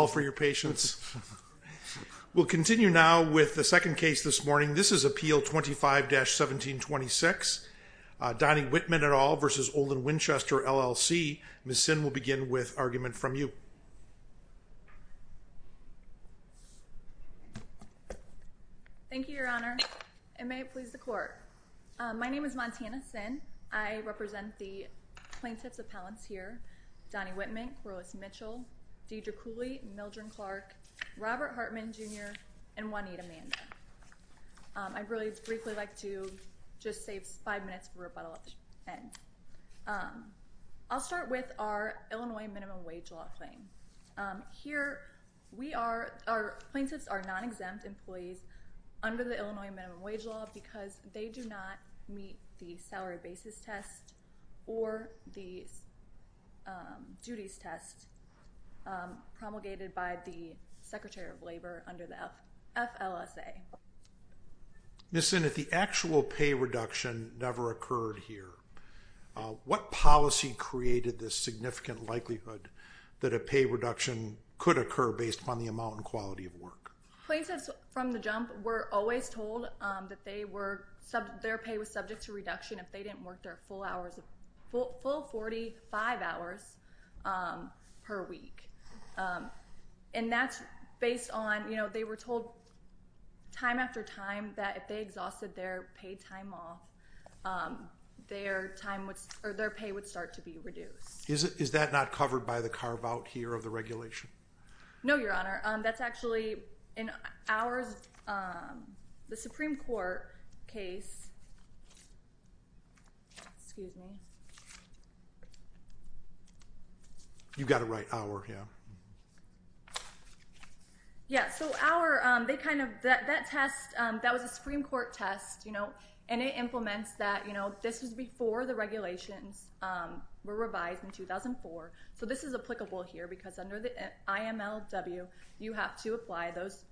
All for your patience. We'll continue now with the second case this morning. This is Appeal 25-1726. Donnie Wittman et al. v. Olin Winchester, LLC. Ms. Sinn will begin with argument from you. Thank you, Your Honor. And may it please the Court. My name is Montana Sinn. I represent the plaintiffs' appellants here, Donnie Wittman, Corliss Mitchell, Deidre Cooley, Mildren Clark, Robert Hartman, Jr., and Juanita Mando. I'd really briefly like to just save five minutes for rebuttal at the end. I'll start with our Illinois minimum wage law claim. Here, we are, our plaintiffs are non-exempt employees under the Illinois minimum wage law because they do not meet the salary basis test or the duties test promulgated by the Secretary of Labor under the FLSA. Ms. Sinn, if the actual pay reduction never occurred here, what policy created this significant likelihood that a pay reduction could occur based upon the amount and quality of work? Plaintiffs from the jump were always told that they were, their pay was subject to reduction if they didn't work their full hours, full 45 hours per week. And that's based on, you know, they were told time after time that if they exhausted their paid time off, their time would, or their pay would start to be reduced. Is that not covered by the carve-out here of the regulation? No, Your Honor. That's actually in ours, the Supreme Court case, excuse me. You've got it right, our, yeah. Yeah, so our, they kind of, that test, that was a Supreme Court test, you know, and it implements that, you know, this was before the regulations were revised in 2004. So this is applicable here because under the IMLW, you have to apply those,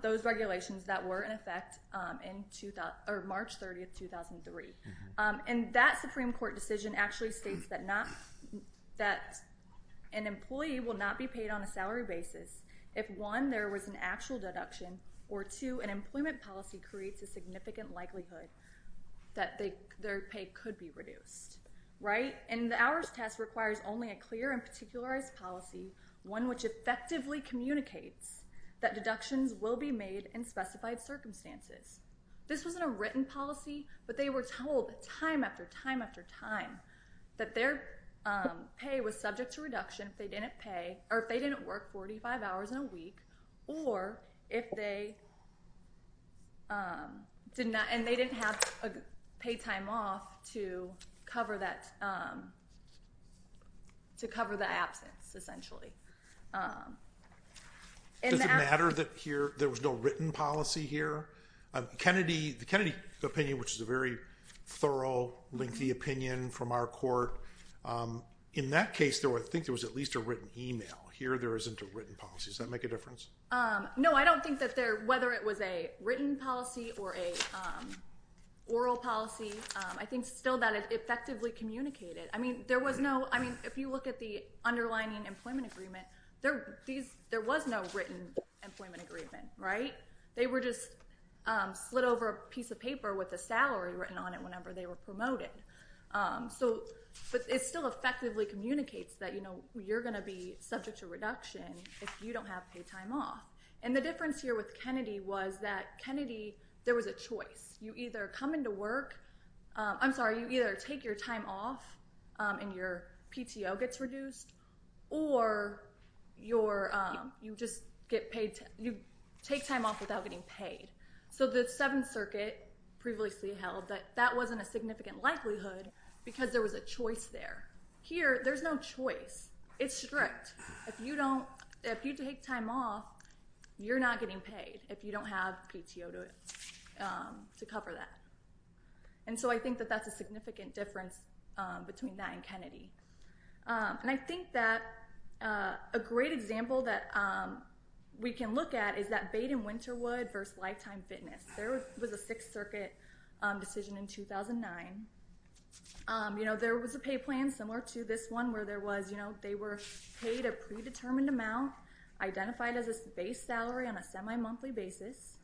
those regulations that were in effect in March 30, 2003. And that Supreme Court decision actually states that not, that an employee will not be paid on a salary basis if one, there was an actual deduction, or two, an employment policy creates a significant likelihood that their pay could be reduced, right? And the hours test requires only a clear and particularized policy, one which effectively communicates that deductions will be made in specified circumstances. This wasn't a written policy, but they were told time after time after time that their pay was subject to reduction if they didn't pay, or if they didn't work 45 hours in a week, or if they did not, and they didn't have a pay time off to cover that, to cover the absence, essentially. Does it matter that here, there was no written policy here? Kennedy, the Kennedy opinion, which is a very thorough, lengthy opinion from our court, in that case, I think there was at least a written email. Here, there isn't a written policy. Does that make a difference? No, I don't think that there, whether it was a written policy or a oral policy, I think still that it effectively communicated. I mean, there was no, I mean, if you look at the underlining employment agreement, there was no written employment agreement, right? They were just slid over a piece of paper with a salary written on it whenever they were promoted. So, but it still effectively communicates that you're going to be subject to reduction if you don't have pay time off. And the difference here with Kennedy was that Kennedy, there was a choice. You either come into work, I'm sorry, you either take your time off and your PTO gets reduced, or you just get paid, you take time off without getting a significant likelihood because there was a choice there. Here, there's no choice. It's strict. If you don't, if you take time off, you're not getting paid if you don't have PTO to cover that. And so I think that that's a significant difference between that and Kennedy. And I think that a great example that we can look at is that Baden-Winterwood versus Lifetime Fitness. There was a Sixth Circuit decision in 2009. You know, there was a pay plan similar to this one where there was, you know, they were paid a predetermined amount identified as a base salary on a semi-monthly basis.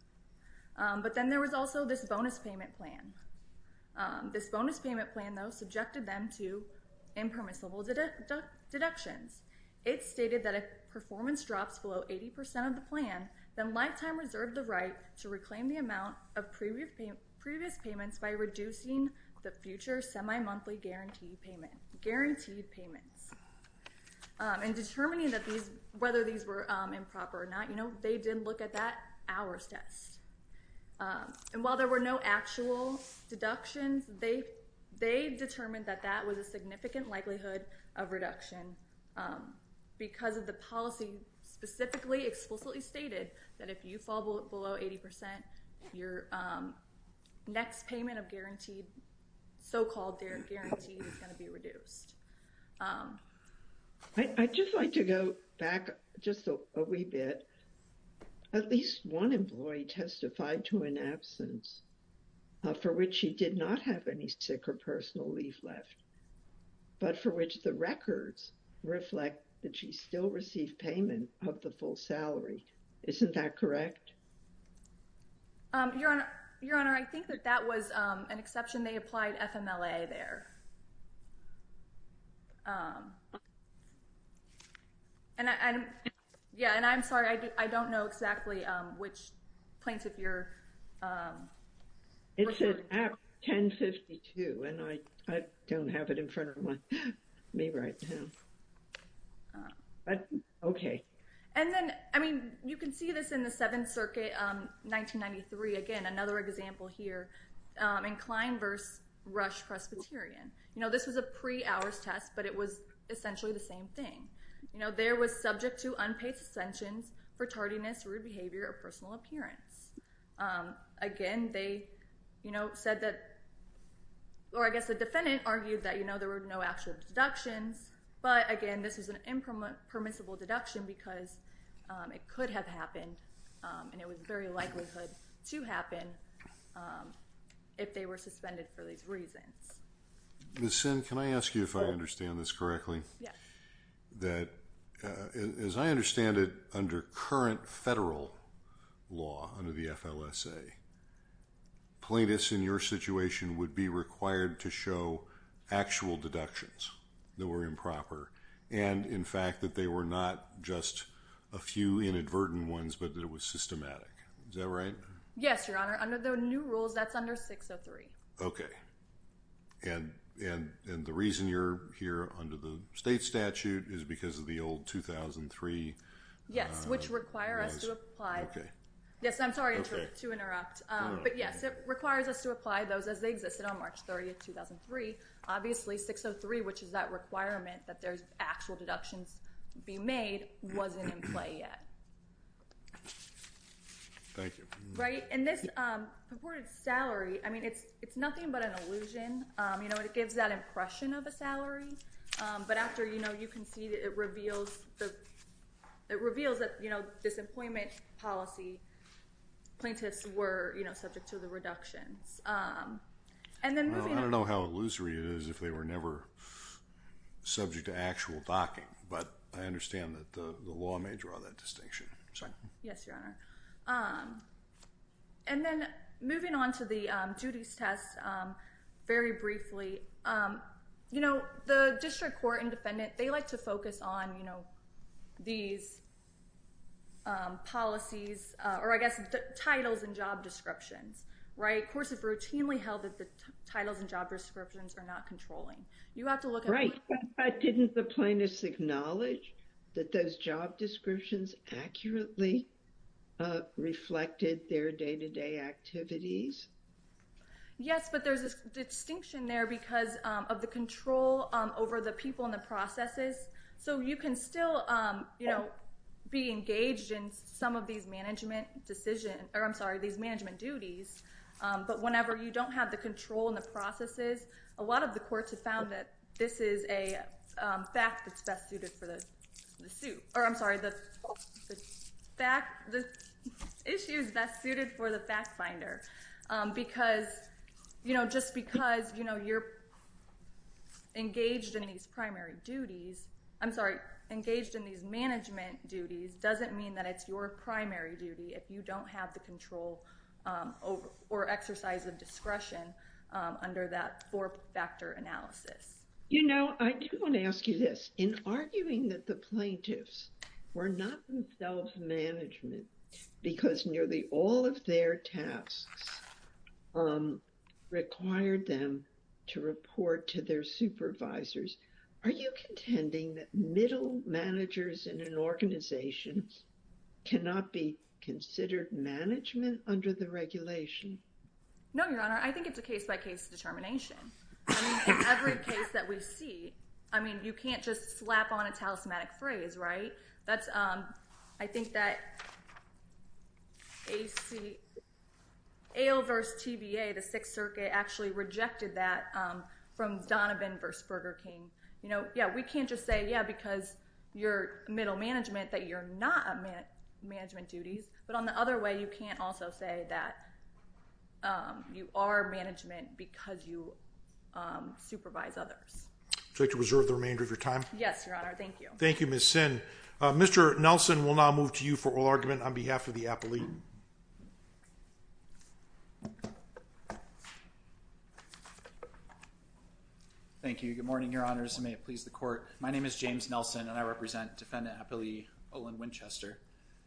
But then there was also this bonus payment plan. This bonus payment plan, though, subjected them to impermissible deductions. It stated that if performance drops below 80% of the plan, then Lifetime reserved the right to reclaim the amount of previous payments by reducing the future semi-monthly guaranteed payments. And determining that these, whether these were improper or not, you know, they did look at that hours test. And while there were no actual deductions, they determined that that was a significant likelihood of reduction because of the policy specifically explicitly stated that if you fall below 80%, your next payment of guaranteed, so-called guaranteed, is going to be reduced. I'd just like to go back just a wee bit. At least one employee testified to an absence for which she did not have any sick or personal leave left, but for which the records reflect that she still received payment of the full salary. Isn't that correct? Your Honor, I think that that was an exception. They applied FMLA there. And, yeah, and I'm sorry, I don't know exactly which plaintiff you're referring to. It's at 1052, and I don't have it in front of me right now. But, OK. And then, I mean, you can see this in the Seventh Circuit, 1993, again, another example here, and Klein v. Rush Presbyterian. This was a pre-hours test, but it was essentially the same thing. There was subject to unpaid suspension for tardiness, rude behavior, or personal appearance. Again, they said that, or I guess the defendant argued that there were no actual deductions, but, again, this is an impermissible deduction because it could have happened, and it was very likelihood to happen, if they were suspended for these reasons. Ms. Sinn, can I ask you if I understand this correctly? Yes. That, as I understand it, under current federal law, under the FLSA, plaintiffs in your situation would be required to show actual deductions that were improper, and, in fact, that they were not just a few inadvertent ones, but that it was systematic. Is that right? Yes, Your Honor. Under the new rules, that's under 603. OK. And the reason you're here under the state statute is because of the old 2003... Yes, which require us to apply... OK. Yes, I'm sorry to interrupt. But, yes, it requires us to apply those as they existed on March 30, 2003. Obviously, 603, which is that requirement that there's actual deductions being made, wasn't in play yet. Thank you. Right? And this purported salary, I mean, it's nothing but an illusion. You know, it gives that impression of a salary, but after, you know, you can see that it reveals that, you know, this employment policy plaintiffs were, you know, subject to the reductions. And then moving on... I don't know how illusory it is if they were never subject to actual docking, but I understand that the law may draw that distinction. Yes, Your Honor. And then, moving on to the duties test, very briefly, you know, the district court and defendant, they like to focus on, you know, these policies or, I guess, titles and job descriptions, right? Courts have routinely held that the titles and job descriptions are not controlling. You have to look at... Didn't the plaintiffs acknowledge that those job descriptions accurately reflected their day-to-day activities? Yes, but there's a distinction there because of the control over the people and the processes. So you can still, you know, be engaged in some of these management decisions, or, I'm sorry, these management duties, but whenever you don't have the control in the processes, a lot of the courts have found that this is a fact that's best suited for the suit... Or, I'm sorry, the issue is best suited for the fact finder because, you know, just because, you know, you're engaged in these primary duties... I'm sorry, engaged in these management duties doesn't mean that it's your primary duty if you don't have the control or exercise of discretion under that four-factor analysis. You know, I do want to ask you this. In arguing that the plaintiffs were not themselves management because nearly all of their tasks required them to report to their supervisors, are you contending that middle managers in an organization cannot be considered management under the regulation? No, Your Honour. I think it's a case-by-case determination. I mean, in every case that we see, I mean, you can't just slap on a talismanic phrase, right? That's... I think that A.L. versus T.B.A., the Sixth Circuit, actually rejected that from Donovan versus Burger King. You know, yeah, we can't just say, yeah, because you're middle management that you're not at management duties. But on the other way, you can't also say that you are management because you supervise others. Would you like to reserve the remainder of your time? Yes, Your Honour, thank you. Thank you, Ms. Sinn. Mr. Nelson will now move to you for oral argument on behalf of the appellee. Thank you. Good morning, Your Honours, and may it please the court. My name is James Nelson, and I represent Defendant Appellee Olin Winchester.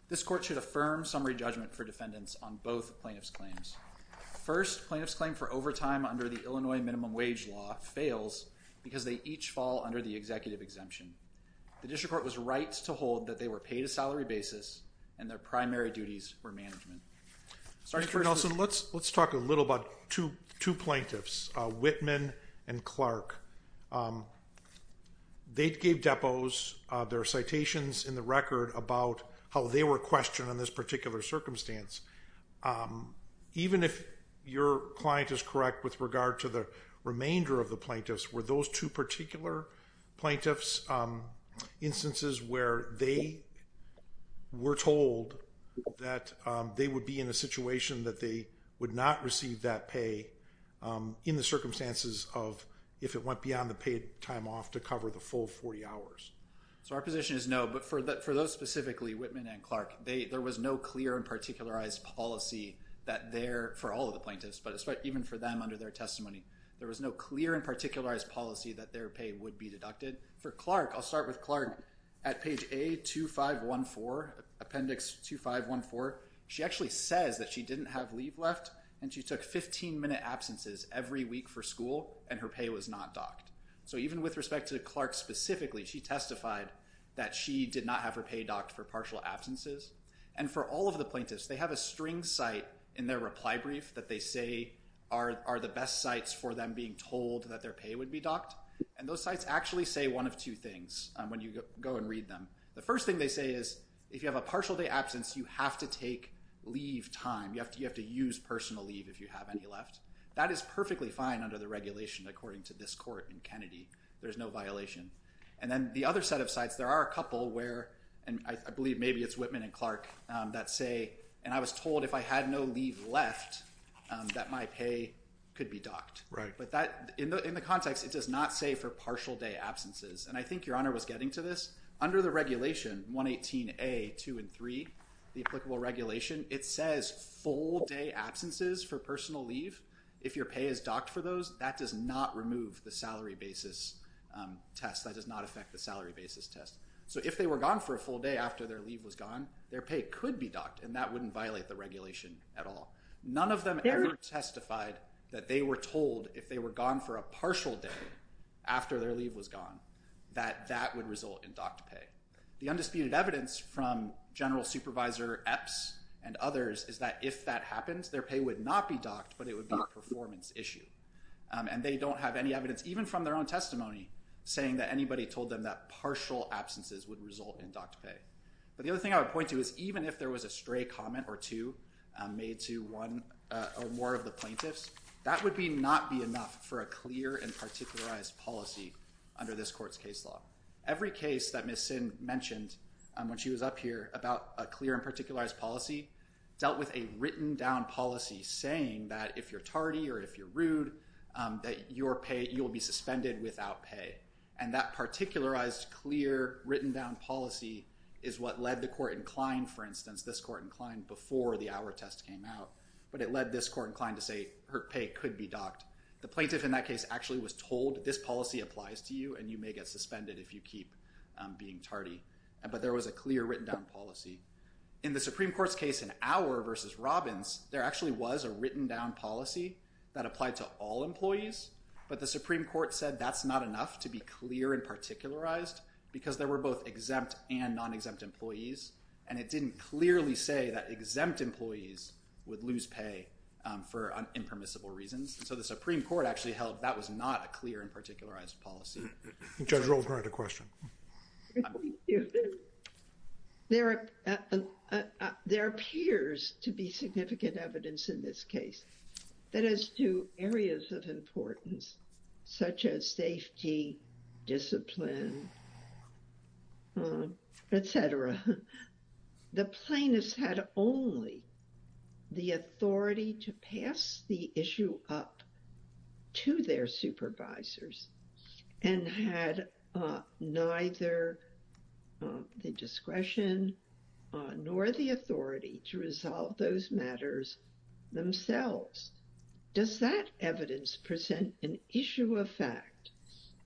This court should affirm summary judgment for defendants on both plaintiff's claims. First, plaintiff's claim for overtime under the Illinois Minimum Wage Law fails because they each fall under the executive exemption. The district court was right to hold that they were paid a salary basis and their primary duties were management. Mr. Nelson, let's talk a little about two points. Two plaintiffs, Whitman and Clark, they gave depots their citations in the record about how they were questioned on this particular circumstance. Even if your client is correct with regard to the remainder of the plaintiffs, were those two particular plaintiffs instances where they were told that they would be in a situation that they would not receive that pay in the circumstances of if it went beyond the paid time off to cover the full 40 hours? So our position is no, but for those specifically, Whitman and Clark, there was no clear and particularized policy that there, for all of the plaintiffs, but even for them under their testimony, there was no clear and particularized policy that their pay would be deducted. For Clark, I'll start with Clark. At page A2514, appendix 2514, she actually says that she didn't have leave left and she took 15-minute absences every week for school and her pay was not docked. So even with respect to Clark specifically, she testified that she did not have her pay docked for partial absences. And for all of the plaintiffs, they have a string cite in their reply brief that they say are the best cites for them being told that their pay would be docked. And those cites actually say one of two things when you go and read them. The first thing they say is if you have a partial day absence, you have to take leave time. You have to use personal leave if you have any left. That is perfectly fine under the regulation according to this court in Kennedy. There's no violation. And then the other set of cites, there are a couple where, and I believe maybe it's Whitman and Clark, that say, and I was told if I had no leave left that my pay could be docked. But that, in the context, it does not say for partial day absences. And I think Your Honor was getting to this. Under the regulation, 118A, 2 and 3, the applicable regulation, it says full day absences for personal leave. If your pay is docked for those, that does not remove the salary basis test. That does not affect the salary basis test. So if they were gone for a full day after their leave was gone, their pay could be docked. And that wouldn't violate the regulation at all. None of them ever testified that they were told if they were gone for a partial day after their leave was gone that that would result in docked pay. The undisputed evidence from General Supervisor Epps and others is that if that happens, their pay would not be docked but it would be a performance issue. And they don't have any evidence, even from their own testimony, saying that anybody told them that partial absences would result in docked pay. But the other thing I would point to is even if there was a stray comment or two made to one or more of the plaintiffs, that would not be enough for a clear and particularized policy under this court's case law. Every case that Ms. Sin mentioned when she was up here about a clear and particularized policy dealt with a written-down policy saying that if you're tardy or if you're rude that you will be suspended without pay. And that particularized, clear, written-down policy is what led the court inclined, for instance, this court inclined, before the hour test came out. But it led this court inclined to say her pay could be docked. The plaintiff in that case actually was told this policy applies to you and you may get suspended if you keep being tardy. But there was a clear written-down policy. In the Supreme Court's case in Auer v. Robbins, there actually was a written-down policy that applied to all employees. But the Supreme Court said that's not enough to be clear and particularized because there were both exempt and non-exempt employees. And it didn't clearly say that exempt employees would lose pay for impermissible reasons. So the Supreme Court actually held that was not a clear and particularized policy. Judge Roldner had a question. Thank you. There appears to be significant evidence in this case that as to areas of importance such as safety, discipline, et cetera, the plaintiffs had only the authority to pass the issue up to their supervisors and had neither the discretion nor the authority to resolve those matters themselves. Does that evidence present an issue of fact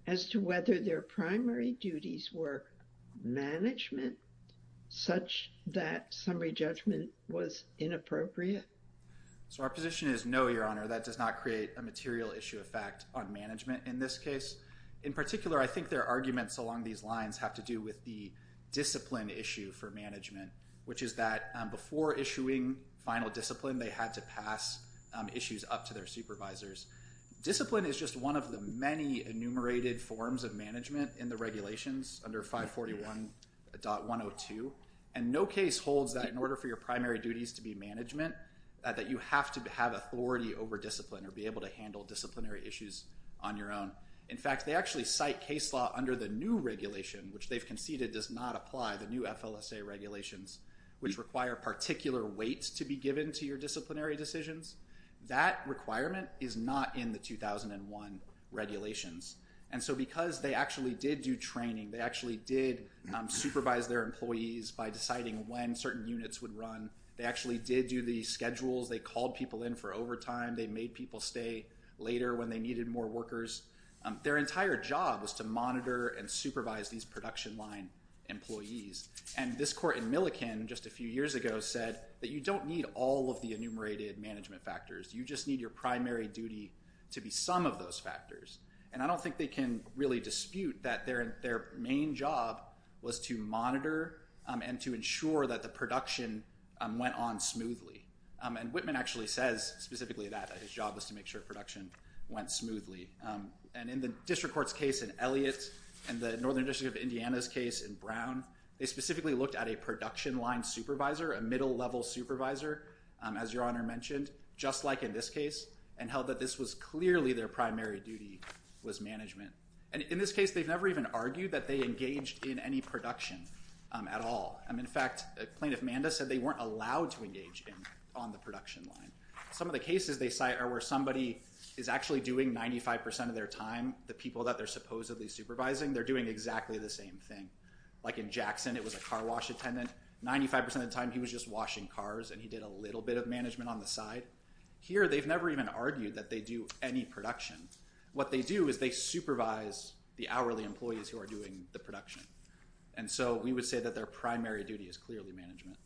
as to whether their primary duties were management such that summary judgment was inappropriate? So our position is no, Your Honor. That does not create a material issue of fact on management in this case. In particular, I think their arguments along these lines have to do with the discipline issue for management, which is that before issuing final discipline, they had to pass issues up to their supervisors. Discipline is just one of the many enumerated forms of management in the regulations under 541.102. And no case holds that in order for your primary duties to be management that you have to have authority over discipline or be able to handle disciplinary issues on your own. In fact, they actually cite case law under the new regulation, which they've conceded does not apply, the new FLSA regulations, which require particular weights to be given to your disciplinary decisions. That requirement is not in the 2001 regulations. And so because they actually did do training, they actually did supervise their employees by deciding when certain units would run. They actually did do the schedules. They called people in for overtime. They made people stay later when they needed more workers. Their entire job was to monitor and supervise these production line employees. And this court in Milliken just a few years ago said that you don't need all of the enumerated management factors. You just need your primary duty to be some of those factors. And I don't think they can really dispute that their main job was to monitor and to ensure that the production went on smoothly. And Whitman actually says specifically that his job was to make sure production went smoothly. And in the district court's case in Elliott and the Northern District of Indiana's case in Brown, they specifically looked at a production line supervisor, a middle-level supervisor, as Your Honor mentioned, just like in this case, and held that this was clearly their primary duty was management. And in this case, they've never even argued that they engaged in any production at all. In fact, Plaintiff Manda said they weren't allowed to engage on the production line. Some of the cases they cite are where somebody is actually doing 95% of their time the people that they're supposedly supervising. They're doing exactly the same thing. Like in Jackson, it was a car wash attendant. 95% of the time, he was just washing cars, and he did a little bit of management on the side. Here, they've never even argued that they do any production. What they do is they supervise the hourly employees who are doing the production. And so we would say that their primary duty is clearly management.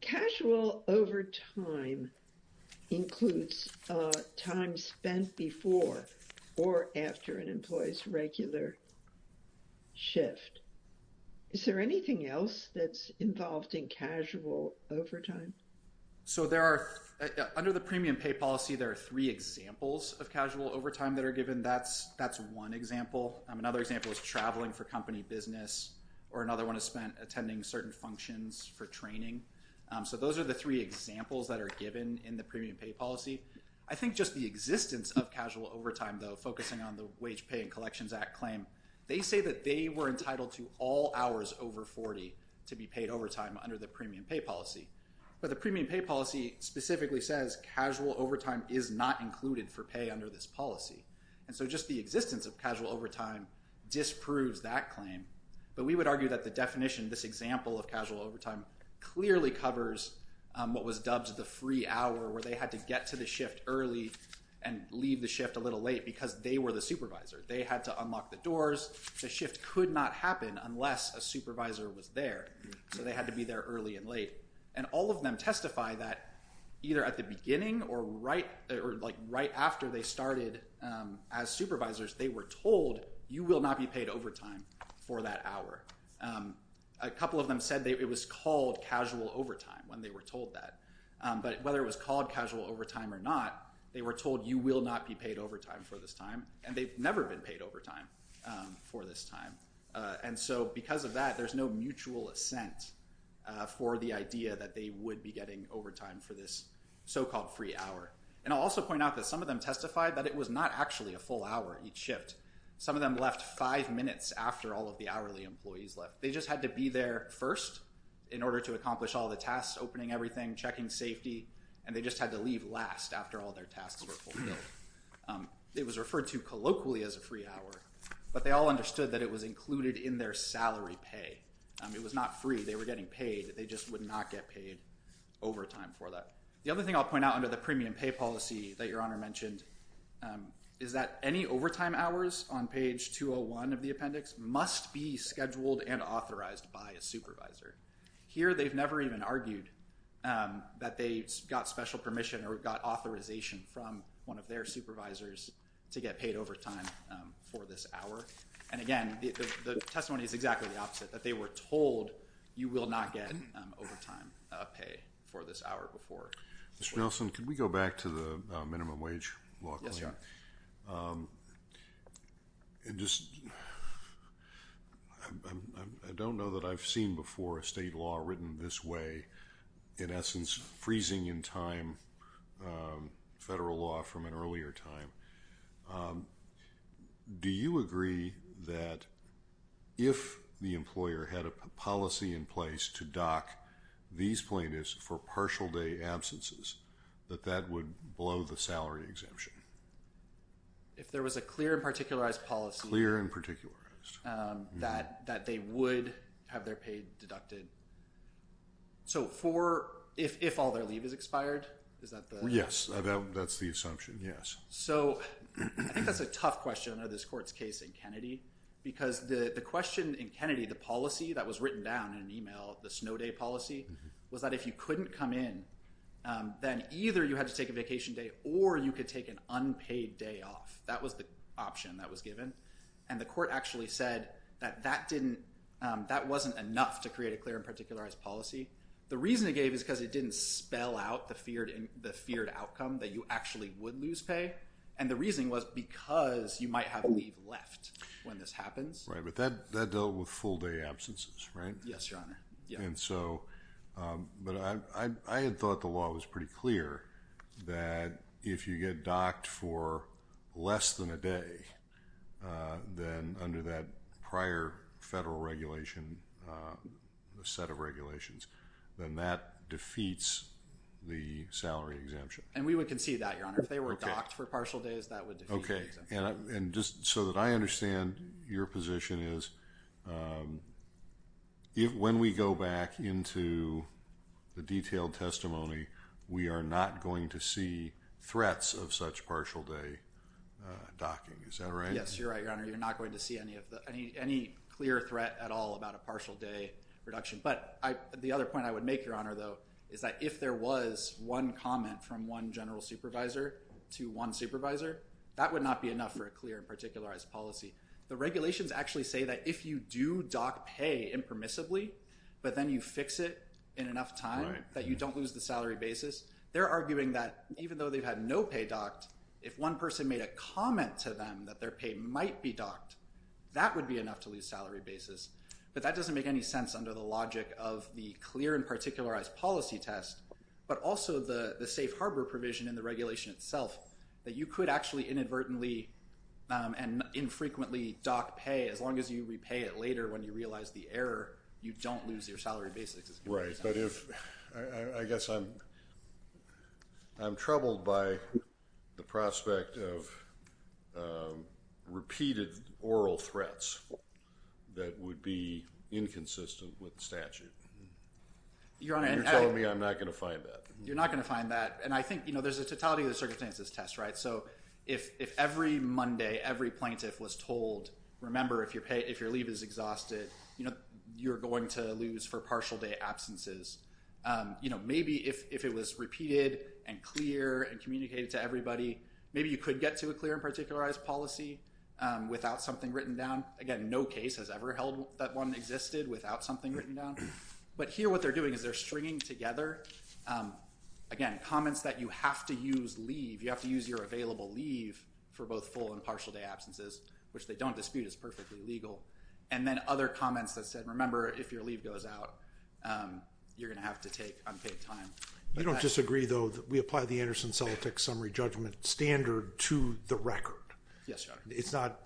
Casual overtime includes time spent before or after an employee's regular shift. Is there anything else that's involved in casual overtime? So there are... Under the premium pay policy, there are three examples of casual overtime that are given. That's one example. Another example is traveling for company business, or another one is spent attending certain functions for training. So those are the three examples that are given in the premium pay policy. I think just the existence of casual overtime, though, focusing on the Wage Pay and Collections Act claim, they say that they were entitled to all hours over 40 to be paid overtime under the premium pay policy. But the premium pay policy specifically says casual overtime is not included for pay under this policy. And so just the existence of casual overtime disproves that claim. But we would argue that the definition, this example of casual overtime, clearly covers what was dubbed the free hour, where they had to get to the shift early and leave the shift a little late because they were the supervisor. They had to unlock the doors. The shift could not happen unless a supervisor was there. So they had to be there early and late. And all of them testify that either at the beginning or right after they started as supervisors, they were told, you will not be paid overtime for that hour. A couple of them said it was called casual overtime when they were told that. But whether it was called casual overtime or not, they were told, you will not be paid overtime for this time. And they've never been paid overtime for this time. And so because of that, there's no mutual assent for the idea that they would be getting overtime for this so-called free hour. And I'll also point out that some of them testified that it was not actually a full hour each shift. Some of them left five minutes after all of the hourly employees left. They just had to be there first in order to accomplish all the tasks, opening everything, checking safety, and they just had to leave last after all their tasks were fulfilled. It was referred to colloquially as a free hour, but they all understood that it was included in their salary pay. It was not free. They were getting paid. They just would not get paid overtime for that. The other thing I'll point out under the premium pay policy that Your Honor mentioned is that any overtime hours on page 201 of the appendix must be scheduled and authorized by a supervisor. Here, they've never even argued that they got special permission or got authorization from one of their supervisors to get paid overtime for this hour. And again, the testimony is exactly the opposite, that they were told you will not get overtime pay for this hour before. Mr. Nelson, could we go back to the minimum wage law? Yes, Your Honor. Um... It just... I don't know that I've seen before a state law written this way, in essence, freezing in time federal law from an earlier time. Um... Do you agree that if the employer had a policy in place to dock these plaintiffs for partial day absences, that that would blow the salary exemption? If there was a clear and particularized policy... Clear and particularized. Um... that they would have their pay deducted. So for... If all their leave is expired? Is that the... Yes. That's the assumption, yes. So... I think that's a tough question under this court's case in Kennedy. Because the question in Kennedy, the policy that was written down in an email, the snow day policy, was that if you couldn't come in, then either you had to take a vacation day or you could take an unpaid day off. That was the option that was given. And the court actually said that that didn't... that wasn't enough to create a clear and particularized policy. The reason it gave is because it didn't spell out the feared outcome that you actually would lose pay. And the reason was because you might have leave left when this happens. But that dealt with full-day absences, right? Yes, Your Honor. And so... But I had thought the law was pretty clear that if you get docked for less than a day, then under that prior federal regulation, the set of regulations, then that defeats the salary exemption. And we would concede that, Your Honor. If they were docked for partial days, that would defeat the exemption. And just so that I understand your position is, when we go back into the detailed testimony, we are not going to see threats of such partial-day docking. Is that right? Yes, you're right, Your Honor. You're not going to see any clear threat at all about a partial-day reduction. But the other point I would make, Your Honor, though, is that if there was one comment from one general supervisor to one supervisor, that would not be enough for a clear and particularized policy. The regulations actually say that if you do dock pay impermissibly, but then you fix it in enough time that you don't lose the salary basis, they're arguing that even though they've had no pay docked, if one person made a comment to them that their pay might be docked, that would be enough to lose salary basis. But that doesn't make any sense under the logic of the clear and particularized policy test, but also the safe harbor provision in the regulation itself, that you could actually inadvertently and infrequently dock pay as long as you repay it later when you realize the error, you don't lose your salary basis. Right, but if... I guess I'm... I'm troubled by the prospect of repeated oral threats that would be inconsistent with statute. Your Honor, I... Tell me I'm not gonna find that. You're not gonna find that. And I think, you know, there's a totality of the circumstances test, right? So if every Monday, every plaintiff was told, remember if your leave is exhausted, you know, you're going to lose for partial day absences, you know, maybe if it was repeated and clear and communicated to everybody, maybe you could get to a clear and particularized policy without something written down. Again, no case has ever held that one existed without something written down. But here what they're doing is they're stringing together, again, comments that you have to use leave, you have to use your available leave for both full and partial day absences, which they don't dispute is perfectly legal. And then other comments that said, remember if your leave goes out, you're gonna have to take unpaid time. You don't disagree though that we apply the Anderson Celtic Summary Judgment Standard to the record. Yes, Your Honor. It's not...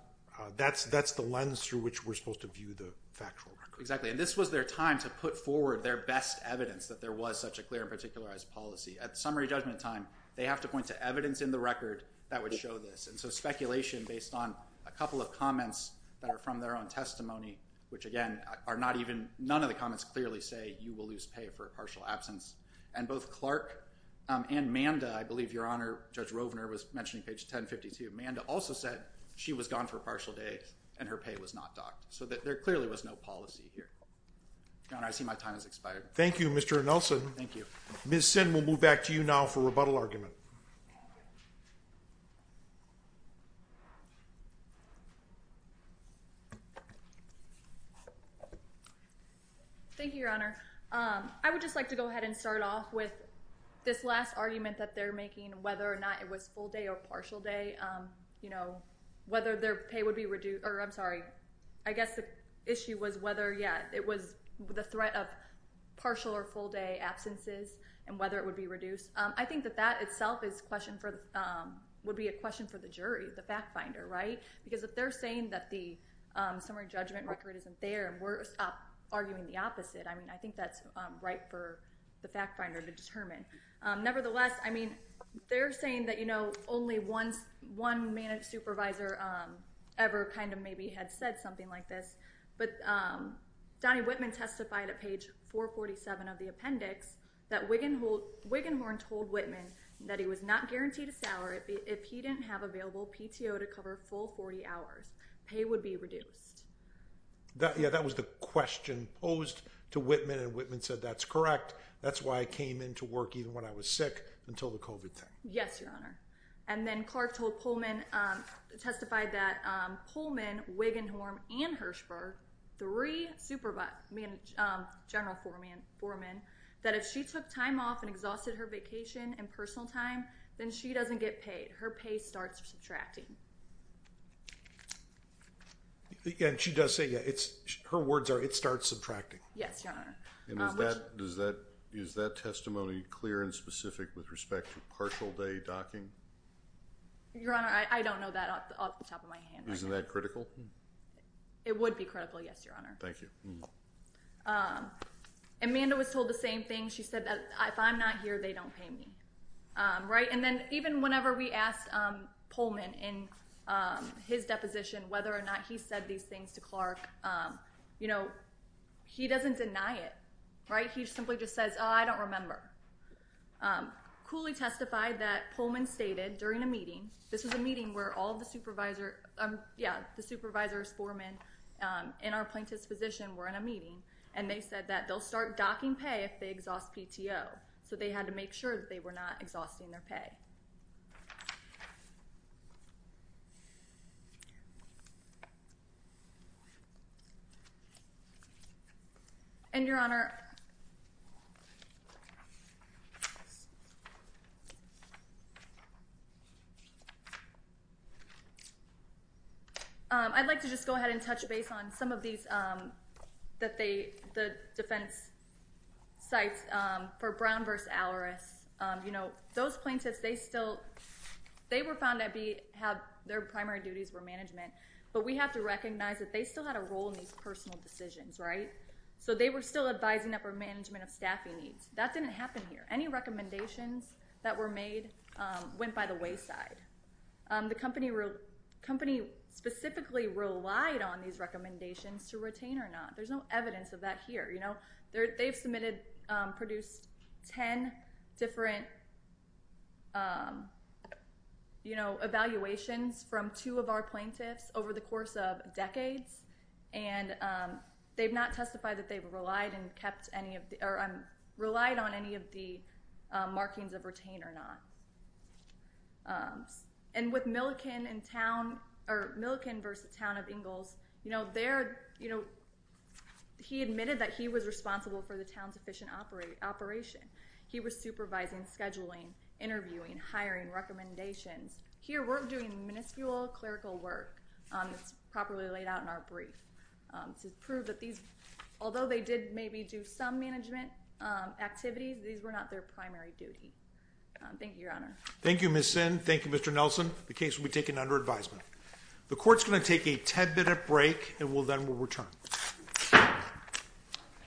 That's the lens through which we're supposed to view the factual record. Exactly. And this was their time to put forward their best evidence that there was such a clear and particularized policy. At summary judgment time, they have to point to evidence in the record that would show this. And so speculation based on a couple of comments that are from their own testimony, which again are not even... None of the comments clearly say you will lose pay for a partial absence. And both Clark and Manda, I believe, Judge Rovner was mentioning page 1052. Manda also said she was gone for a partial day and her pay was not docked. So there clearly was no policy here. I see my time has expired. Thank you, Mr. Nelson. Thank you. Ms. Sin, we'll move back to you now for rebuttal argument. Thank you, Your Honor. I would just like to go ahead and start off with this last argument that they're making whether or not it was full day or partial day. You know, whether their pay would be reduced... I'm sorry. I guess the issue was whether, yeah, it was the threat of partial or full day absences and whether it would be reduced. I think that that itself would be a question for the jury, the fact finder, right? Because if they're saying that the summary judgment record isn't there, we're arguing the opposite. I mean, I think that's right for the fact finder to determine. Nevertheless, I mean, they're saying that, you know, only once one supervisor ever kind of maybe had said something like this. Donnie Whitman testified at page 447 of the appendix that Wiggenhorn told Whitman that he was not guaranteed a salary if he didn't have available PTO to cover full 40 hours. Pay would be reduced. Yeah, that was the question posed to Whitman and Whitman said that's correct. That's why I came into work even when I was sick until the COVID thing. Yes, Your Honor. And then Clark told Pullman testified that Pullman, Wiggenhorn and Hirshberg three supervisor general foreman that if she took time off and exhausted her vacation and personal time then she doesn't get paid. Her pay starts subtracting. And she does say, yeah, it's her words are it starts subtracting. Yes, Your Honor. And is that is that testimony clear and specific with respect to partial day docking? I don't know that off the top of my hand. Isn't that critical? It would be critical. Your Honor. Thank you. Amanda was told the same thing. She said that if I'm not here they don't pay me. Right. And then even whenever we asked Pullman in his deposition whether or not he said these things to Clark, you know, he doesn't deny it. Right. He simply just says, I don't remember. Cooley testified that Pullman stated during a This is a meeting where all the supervisor. Yeah. The supervisor Sporeman in our plaintiff's position were in a meeting and they said that they'll start docking pay if they exhaust PTO. So they had to make sure that they were not exhausting their pay. And Your Honor. I'd like to just go ahead and touch base on some of these that they the defense sites for Brown v. Alleris. You know, those plaintiffs they still they were found to have their primary duties were management. But we have to recognize that they still had a role in these personal decisions. Right. So they were still advising upper management of staffing needs. That didn't happen here. Any recommendations that were made went by the wayside. The company company specifically relied on these recommendations to retain or not. There's no they admitted produced 10 different you know evaluations from two of our plaintiffs over the course of And they've not testified that they've relied and kept any of or relied on any of the markings of retain or not. And with Milliken in town or Milliken v. Town of Ingalls you know there you know he admitted that he was responsible for the town's efficient operation. He was supervising, recommendations. Here we're doing miniscule clerical work properly laid out in our brief to prove that these although they did maybe do some management activities these were not their primary duty. Thank you your honor. Thank you Ms. Sinn. Thank you Mr. Nelson. The case will be taken under advisement. The court's going to take a 10 minute break and then we'll return.